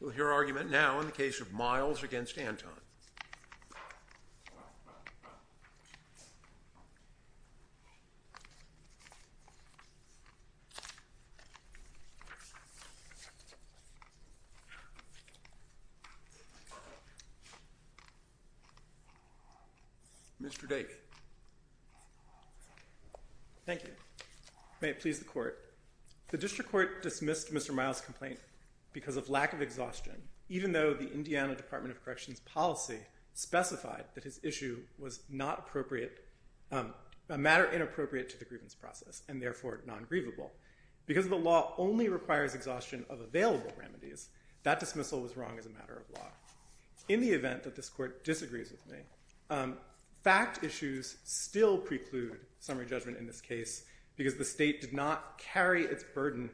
We'll hear argument now in the case of Miles v. Anton. Mr. Davie. Thank you. May it please the Court. The District Court dismissed Mr. Miles' complaint because of lack of exhaustion, even though the Indiana Department of Corrections policy specified that his issue was not appropriate, a matter inappropriate to the grievance process and therefore non-grievable. Because the law only requires exhaustion of available remedies, that dismissal was wrong as a matter of law. In the event that this Court disagrees with me, fact issues still preclude summary judgment in this case because the State did not carry its burden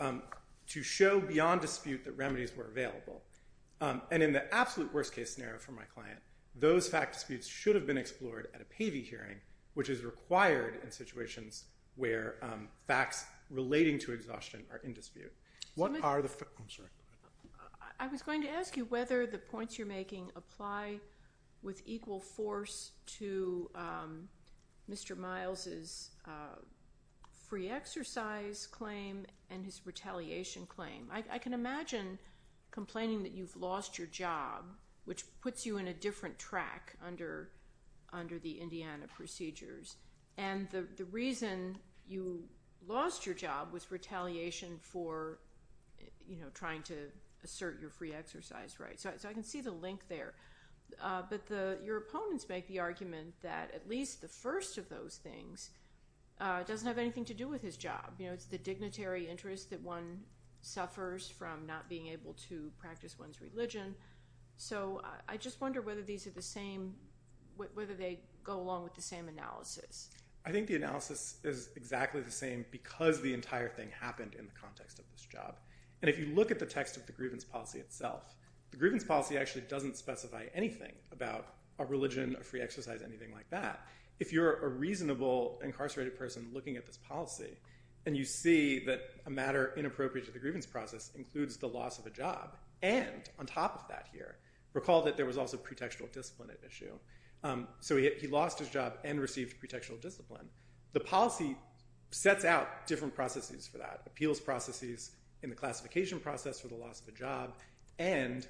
to show beyond dispute that remedies were available. And in the absolute worst-case scenario for my client, those fact disputes should have been explored at a PAVI hearing, which is required in situations where facts relating to exhaustion are in dispute. I'm sorry. I was going to ask you whether the points you're making apply with equal force to Mr. Miles' free exercise claim and his retaliation claim. I can imagine complaining that you've lost your job, which puts you in a different track under the Indiana procedures. And the reason you lost your job was retaliation for trying to assert your free exercise right. So I can see the link there. But your opponents make the argument that at least the first of those things doesn't have anything to do with his job. It's the dignitary interest that one suffers from not being able to practice one's religion. So I just wonder whether they go along with the same analysis. I think the analysis is exactly the same because the entire thing happened in the context of this job. And if you look at the text of the grievance policy itself, the grievance policy actually doesn't specify anything about a religion, a free exercise, anything like that. If you're a reasonable incarcerated person looking at this policy and you see that a matter inappropriate to the grievance process includes the loss of a job and on top of that here, recall that there was also pretextual discipline at issue. So he lost his job and received pretextual discipline. The policy sets out different processes for that. Appeals processes in the classification process for the loss of a job and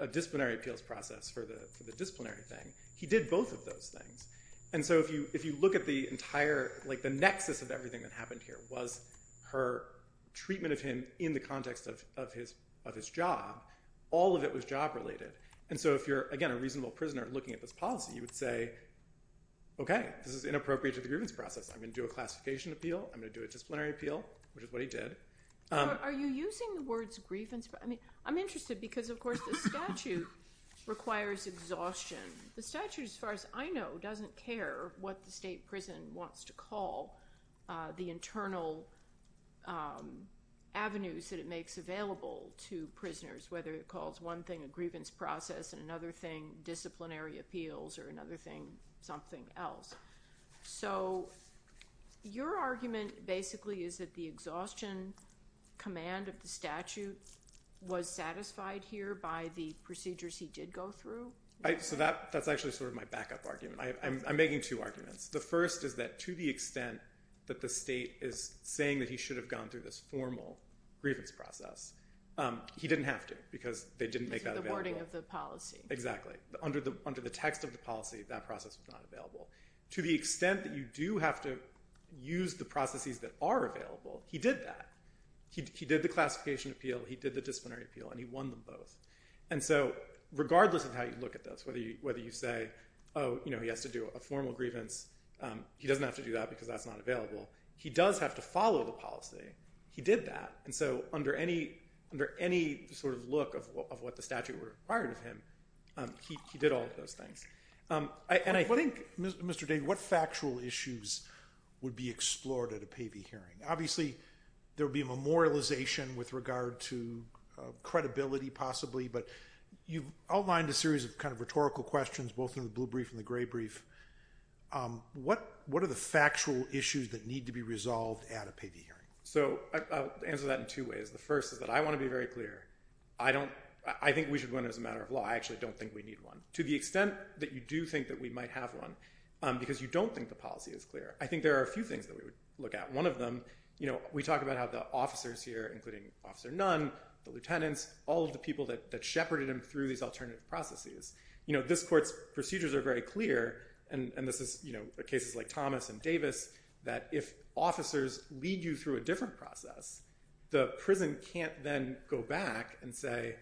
a disciplinary appeals process for the disciplinary thing. He did both of those things. And so if you look at the entire, like the nexus of everything that happened here was her treatment of him in the context of his job. All of it was job related. And so if you're, again, a reasonable prisoner looking at this policy, you would say, okay, this is inappropriate to the grievance process. I'm going to do a classification appeal. I'm going to do a disciplinary appeal, which is what he did. Are you using the words grievance? I mean, I'm interested because, of course, the statute requires exhaustion. The statute, as far as I know, doesn't care what the state prison wants to call the internal avenues that it makes available to prisoners, whether it calls one thing a grievance process and another thing disciplinary appeals or another thing something else. So your argument basically is that the exhaustion command of the statute was satisfied here by the procedures he did go through? So that's actually sort of my backup argument. I'm making two arguments. The first is that to the extent that the state is saying that he should have gone through this formal grievance process, he didn't have to because they didn't make that available. Because of the wording of the policy. Exactly. Under the text of the policy, that process was not available. To the extent that you do have to use the processes that are available, he did that. He did the classification appeal, he did the disciplinary appeal, and he won them both. And so regardless of how you look at this, whether you say, oh, you know, he has to do a formal grievance, he doesn't have to do that because that's not available. He does have to follow the policy. He did that. And so under any sort of look of what the statute required of him, he did all of those things. And I think, Mr. David, what factual issues would be explored at a PAVI hearing? Obviously there would be memorialization with regard to credibility possibly, but you've outlined a series of kind of rhetorical questions, both in the blue brief and the gray brief. What are the factual issues that need to be resolved at a PAVI hearing? So I'll answer that in two ways. The first is that I want to be very clear. I think we should win as a matter of law. I actually don't think we need one. To the extent that you do think that we might have one, because you don't think the policy is clear, I think there are a few things that we would look at. One of them, we talk about how the officers here, including Officer Nunn, the lieutenants, all of the people that shepherded him through these alternative processes. This court's procedures are very clear, and this is cases like Thomas and Davis, that if officers lead you through a different process, the prison can't then go back and say,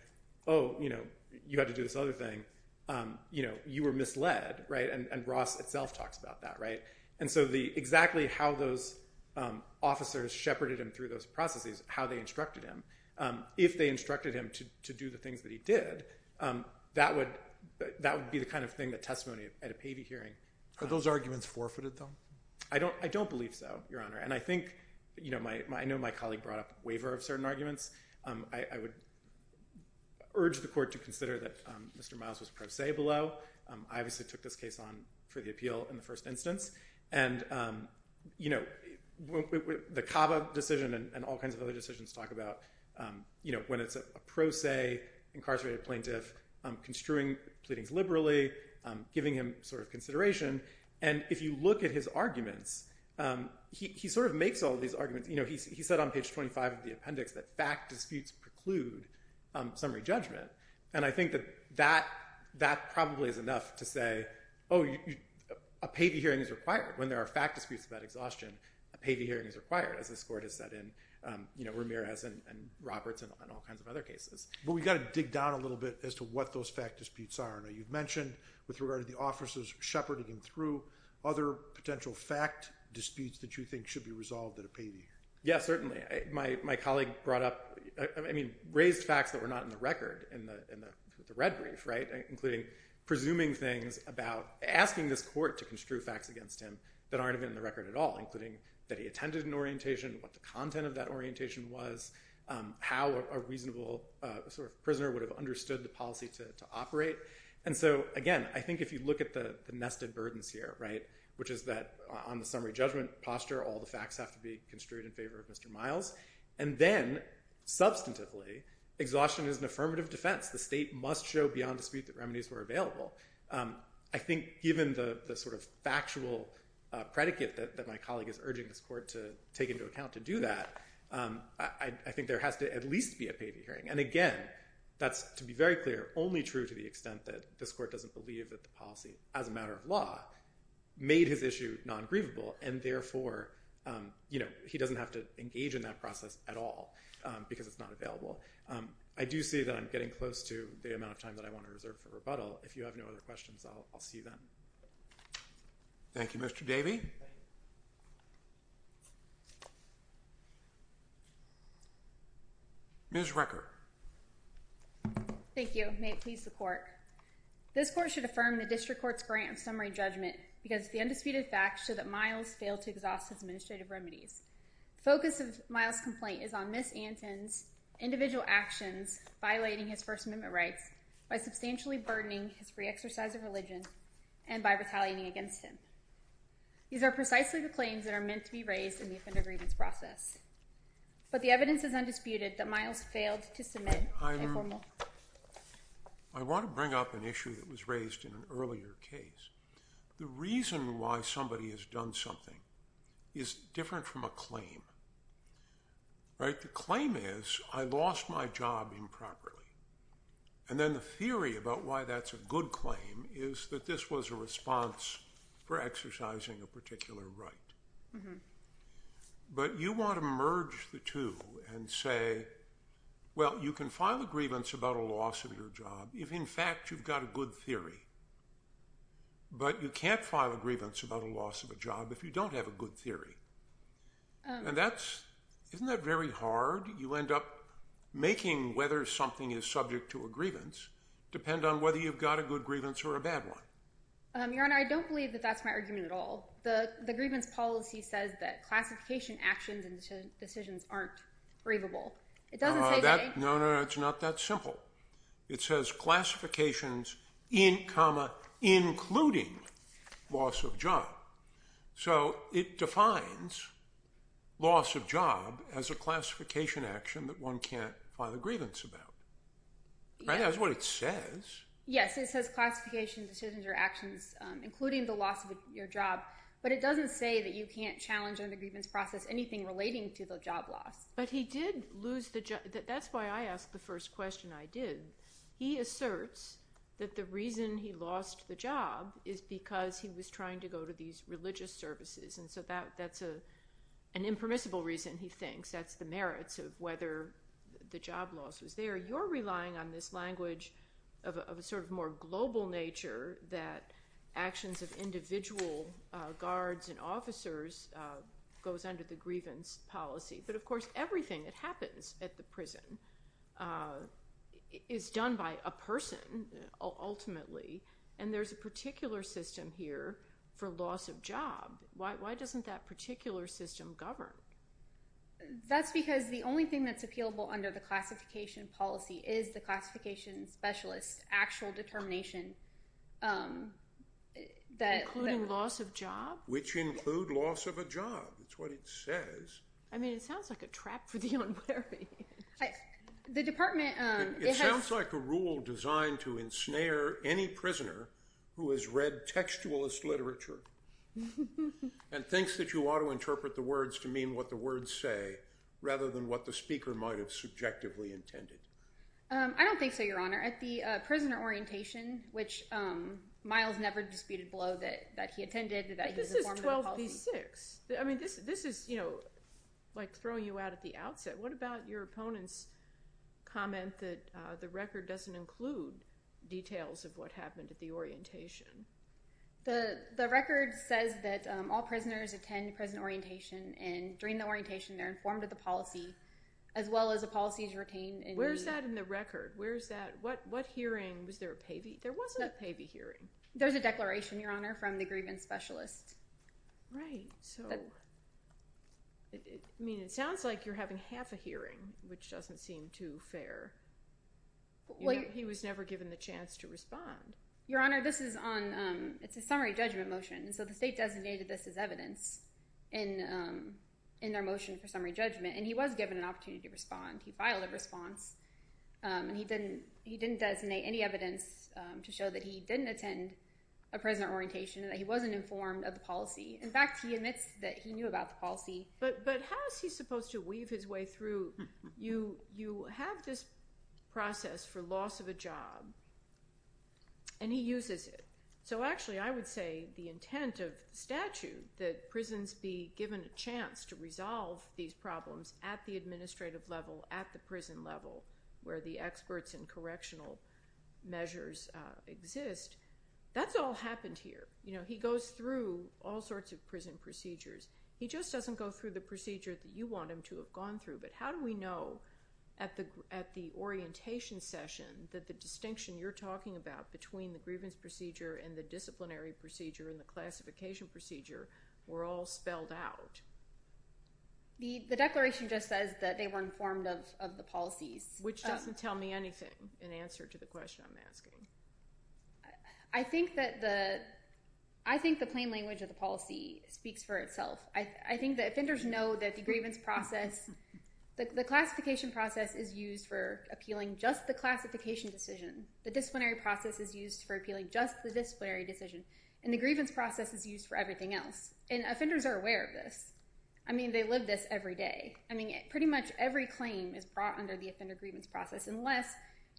oh, you had to do this other thing. You were misled. And Ross itself talks about that. And so exactly how those officers shepherded him through those processes, how they instructed him, if they instructed him to do the things that he did, that would be the kind of thing, the testimony at a PAVI hearing. Are those arguments forfeited, though? I don't believe so, Your Honor. And I think, you know, I know my colleague brought up waiver of certain arguments. I would urge the court to consider that Mr. Miles was pro se below. I obviously took this case on for the appeal in the first instance. And, you know, the CABA decision and all kinds of other decisions talk about, you know, when it's a pro se incarcerated plaintiff construing pleadings liberally, giving him sort of consideration. And if you look at his arguments, he sort of makes all these arguments. You know, he said on page 25 of the appendix that fact disputes preclude summary judgment. And I think that that probably is enough to say, oh, a PAVI hearing is required. When there are fact disputes about exhaustion, a PAVI hearing is required, as this court has said in, you know, Ramirez and Roberts and all kinds of other cases. But we've got to dig down a little bit as to what those fact disputes are. Now, you've mentioned with regard to the officers shepherding him through, other potential fact disputes that you think should be resolved at a PAVI. Yes, certainly. My colleague brought up, I mean, raised facts that were not in the record in the red brief, right, including presuming things about asking this court to construe facts against him that aren't even in the record at all, including that he attended an orientation, what the content of that orientation was, how a reasonable sort of prisoner would have understood the policy to operate. And so, again, I think if you look at the nested burdens here, right, which is that on the summary judgment posture, all the facts have to be construed in favor of Mr. Miles. And then, substantively, exhaustion is an affirmative defense. The state must show beyond dispute that remedies were available. I think given the sort of factual predicate that my colleague is urging this court to take into account to do that, I think there has to at least be a PAVI hearing. And, again, that's, to be very clear, only true to the extent that this court doesn't believe that the policy, as a matter of law, made his issue non-grievable and, therefore, you know, he doesn't have to engage in that process at all because it's not available. I do see that I'm getting close to the amount of time that I want to reserve for rebuttal. If you have no other questions, I'll see you then. Thank you, Mr. Davey. Ms. Rucker. Thank you. May it please the court. This court should affirm the district court's grant of summary judgment because the undisputed facts show that Miles failed to exhaust his administrative remedies. The focus of Miles' complaint is on Ms. Anton's individual actions, violating his First Amendment rights by substantially burdening his free exercise of religion and by retaliating against him. These are precisely the claims that are meant to be raised in the offender grievance process. But the evidence is undisputed that Miles failed to submit a formal… I want to bring up an issue that was raised in an earlier case. The reason why somebody has done something is different from a claim, right? The claim is, I lost my job improperly. And then the theory about why that's a good claim is that this was a response for exercising a particular right. But you want to merge the two and say, well, you can file a grievance about a loss of your job if, in fact, you've got a good theory. But you can't file a grievance about a loss of a job if you don't have a good theory. And that's… isn't that very hard? You end up making whether something is subject to a grievance depend on whether you've got a good grievance or a bad one. Your Honor, I don't believe that that's my argument at all. The grievance policy says that classification actions and decisions aren't grievable. It doesn't say that… No, no, no. It's not that simple. It says classifications in comma including loss of job. So it defines loss of job as a classification action that one can't file a grievance about. Right? That's what it says. Yes, it says classification decisions or actions including the loss of your job. But it doesn't say that you can't challenge under the grievance process anything relating to the job loss. But he did lose the job. That's why I asked the first question I did. He asserts that the reason he lost the job is because he was trying to go to these religious services. And so that's an impermissible reason, he thinks. That's the merits of whether the job loss was there. Your Honor, you're relying on this language of a sort of more global nature that actions of individual guards and officers goes under the grievance policy. But, of course, everything that happens at the prison is done by a person ultimately. And there's a particular system here for loss of job. Why doesn't that particular system govern? That's because the only thing that's appealable under the classification policy is the classification specialist's actual determination that— Including loss of job? Which include loss of a job. That's what it says. I mean, it sounds like a trap for the unworthy. The department— It sounds like a rule designed to ensnare any prisoner who has read textualist literature and thinks that you ought to interpret the words to mean what the words say rather than what the speaker might have subjectively intended. I don't think so, Your Honor. At the prisoner orientation, which Miles never disputed below that he attended— But this is 12 v. 6. I mean, this is, you know, like throwing you out at the outset. What about your opponent's comment that the record doesn't include details of what happened at the orientation? The record says that all prisoners attend prison orientation, and during the orientation, they're informed of the policy as well as the policies retained in the— Where is that in the record? Where is that? What hearing—was there a PAVI? There wasn't a PAVI hearing. There's a declaration, Your Honor, from the grievance specialist. Right. So, I mean, it sounds like you're having half a hearing, which doesn't seem too fair. He was never given the chance to respond. Your Honor, this is on—it's a summary judgment motion, and so the state designated this as evidence in their motion for summary judgment, and he was given an opportunity to respond. He filed a response, and he didn't designate any evidence to show that he didn't attend a prisoner orientation, that he wasn't informed of the policy. In fact, he admits that he knew about the policy. But how is he supposed to weave his way through? You have this process for loss of a job, and he uses it. So, actually, I would say the intent of the statute, that prisons be given a chance to resolve these problems at the administrative level, at the prison level, where the experts and correctional measures exist, that's all happened here. You know, he goes through all sorts of prison procedures. He just doesn't go through the procedure that you want him to have gone through. But how do we know, at the orientation session, that the distinction you're talking about between the grievance procedure and the disciplinary procedure and the classification procedure were all spelled out? The declaration just says that they were informed of the policies. Which doesn't tell me anything in answer to the question I'm asking. I think that the—I think the plain language of the policy speaks for itself. I think that offenders know that the grievance process— the classification process is used for appealing just the classification decision. The disciplinary process is used for appealing just the disciplinary decision. And the grievance process is used for everything else. And offenders are aware of this. I mean, they live this every day. I mean, pretty much every claim is brought under the offender grievance process, unless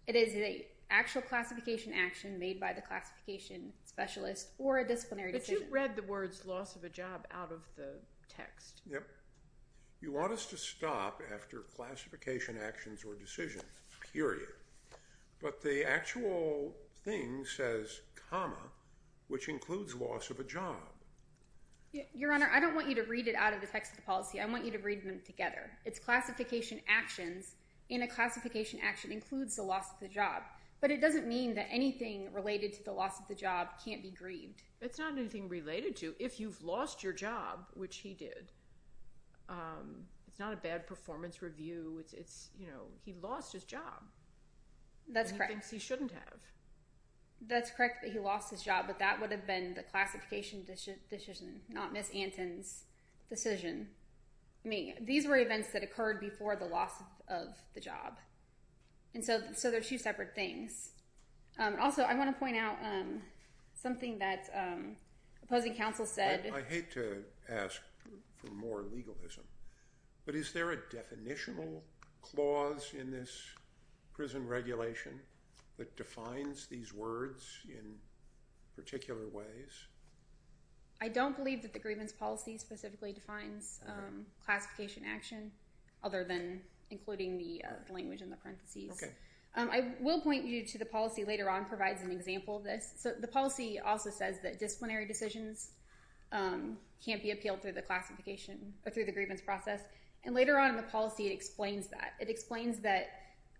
it is an actual classification action made by the classification specialist or a disciplinary decision. But it read the words loss of a job out of the text. Yep. You want us to stop after classification actions or decisions, period. But the actual thing says comma, which includes loss of a job. Your Honor, I don't want you to read it out of the text of the policy. I want you to read them together. It's classification actions, and a classification action includes the loss of the job. But it doesn't mean that anything related to the loss of the job can't be grieved. It's not anything related to. If you've lost your job, which he did, it's not a bad performance review. It's, you know, he lost his job. That's correct. And he thinks he shouldn't have. That's correct that he lost his job, but that would have been the classification decision, not Ms. Anton's decision. I mean, these were events that occurred before the loss of the job. And so there's two separate things. Also, I want to point out something that opposing counsel said. I hate to ask for more legalism, but is there a definitional clause in this prison regulation that defines these words in particular ways? I don't believe that the grievance policy specifically defines classification action other than including the language in the parentheses. I will point you to the policy later on that provides an example of this. The policy also says that disciplinary decisions can't be appealed through the grievance process. And later on in the policy, it explains that. It explains that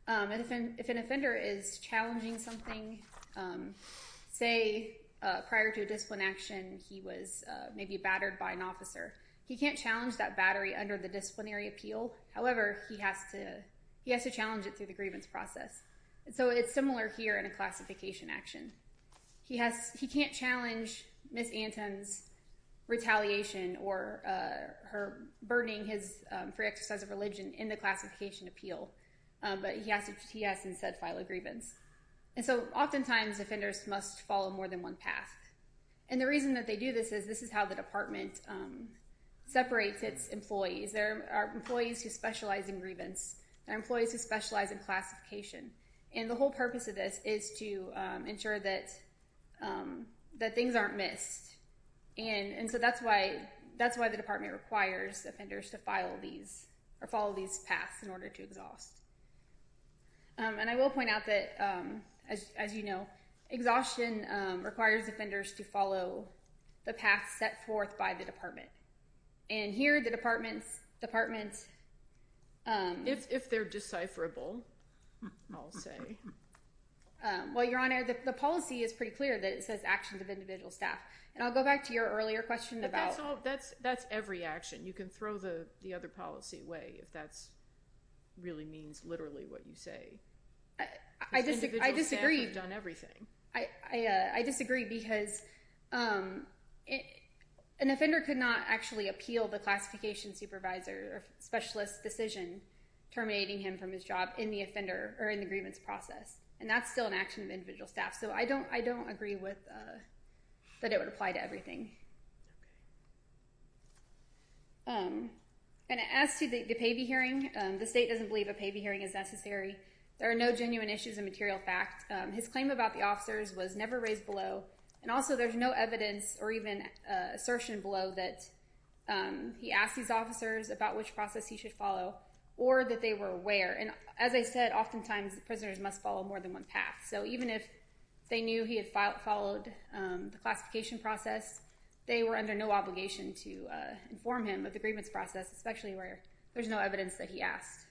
if an offender is challenging something, say, prior to a discipline action, he was maybe battered by an officer. He can't challenge that battery under the disciplinary appeal. However, he has to challenge it through the grievance process. And so it's similar here in a classification action. He can't challenge Ms. Anton's retaliation or her burdening his free exercise of religion in the classification appeal. But he has to instead file a grievance. And so oftentimes, offenders must follow more than one path. And the reason that they do this is this is how the department separates its employees. There are employees who specialize in grievance. There are employees who specialize in classification. And the whole purpose of this is to ensure that things aren't missed. And so that's why the department requires offenders to follow these paths in order to exhaust. And I will point out that, as you know, exhaustion requires offenders to follow the path set forth by the department. And here, the department's department's... If they're decipherable, I'll say. Well, Your Honor, the policy is pretty clear that it says actions of individual staff. And I'll go back to your earlier question about... That's every action. You can throw the other policy away if that really means literally what you say. I disagree. Individual staff have done everything. I disagree because an offender could not actually appeal the classification supervisor or specialist's decision terminating him from his job in the offender or in the grievance process. And that's still an action of individual staff. So I don't agree that it would apply to everything. And as to the payee hearing, the state doesn't believe a payee hearing is necessary. There are no genuine issues of material fact. His claim about the officers was never raised below. And also, there's no evidence or even assertion below that he asked these officers about which process he should follow or that they were aware. And as I said, oftentimes, prisoners must follow more than one path. So even if they knew he had followed the classification process, they were under no obligation to inform him of the grievance process, especially where there's no evidence that he asked.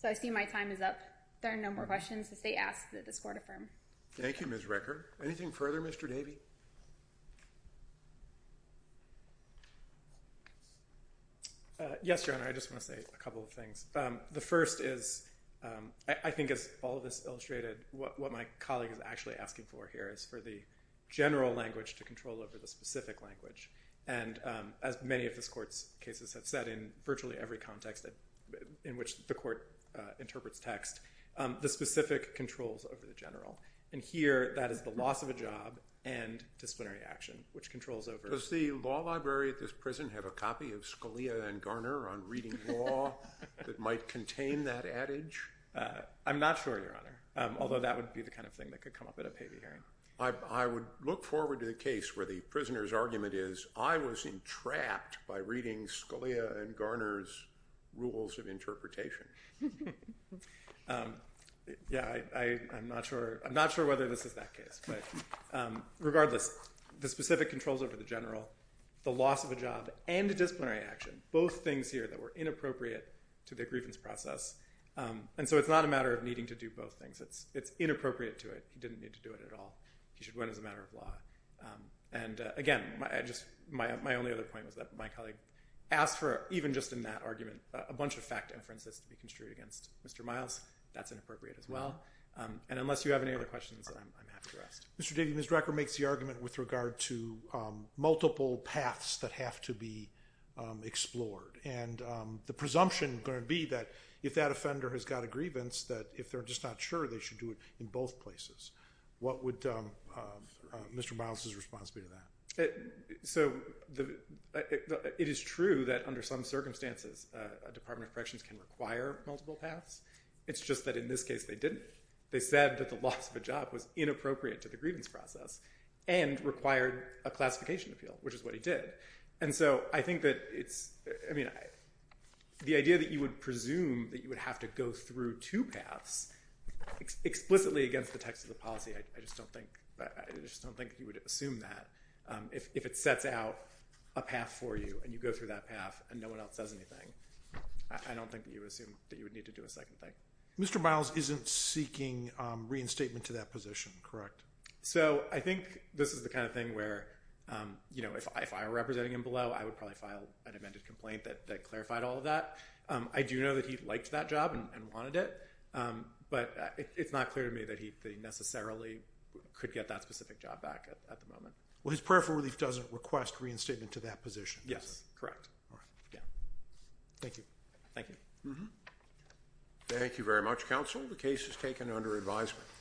So I see my time is up. There are no more questions. The state asks that this court affirm. Thank you, Ms. Reker. Anything further, Mr. Davey? Yes, Your Honor. I just want to say a couple of things. The first is I think as all of this illustrated, what my colleague is actually asking for here is for the general language to control over the specific language. And as many of this court's cases have said in virtually every context in which the court interprets text, the specific controls over the general. And here, that is the loss of a job and disciplinary action, which controls over— Does the law library at this prison have a copy of Scalia and Garner on reading law that might contain that adage? I'm not sure, Your Honor, although that would be the kind of thing that could come up at a payee hearing. I would look forward to the case where the prisoner's argument is, I was entrapped by reading Scalia and Garner's rules of interpretation. Yeah, I'm not sure whether this is that case. But regardless, the specific controls over the general, the loss of a job, and disciplinary action, both things here that were inappropriate to the grievance process. And so it's not a matter of needing to do both things. It's inappropriate to it. He should win as a matter of law. And again, my only other point was that my colleague asked for, even just in that argument, a bunch of fact inferences to be construed against Mr. Miles. That's inappropriate as well. And unless you have any other questions, I'm happy to rest. Mr. Davy, Ms. Drecker makes the argument with regard to multiple paths that have to be explored. And the presumption is going to be that if that offender has got a grievance, that if they're just not sure, they should do it in both places. What would Mr. Miles' response be to that? So it is true that under some circumstances a Department of Corrections can require multiple paths. It's just that in this case they didn't. They said that the loss of a job was inappropriate to the grievance process and required a classification appeal, which is what he did. And so I think that it's, I mean, the idea that you would presume that you would have to go through two paths explicitly against the text of the policy, I just don't think you would assume that. If it sets out a path for you and you go through that path and no one else does anything, I don't think that you would assume that you would need to do a second thing. Mr. Miles isn't seeking reinstatement to that position, correct? So I think this is the kind of thing where, you know, if I were representing him below, I would probably file an amended complaint that clarified all of that. I do know that he liked that job and wanted it. But it's not clear to me that he necessarily could get that specific job back at the moment. Well, his prayer for relief doesn't request reinstatement to that position. Yes, correct. Thank you. Thank you. Thank you very much, counsel. The case is taken under advisement.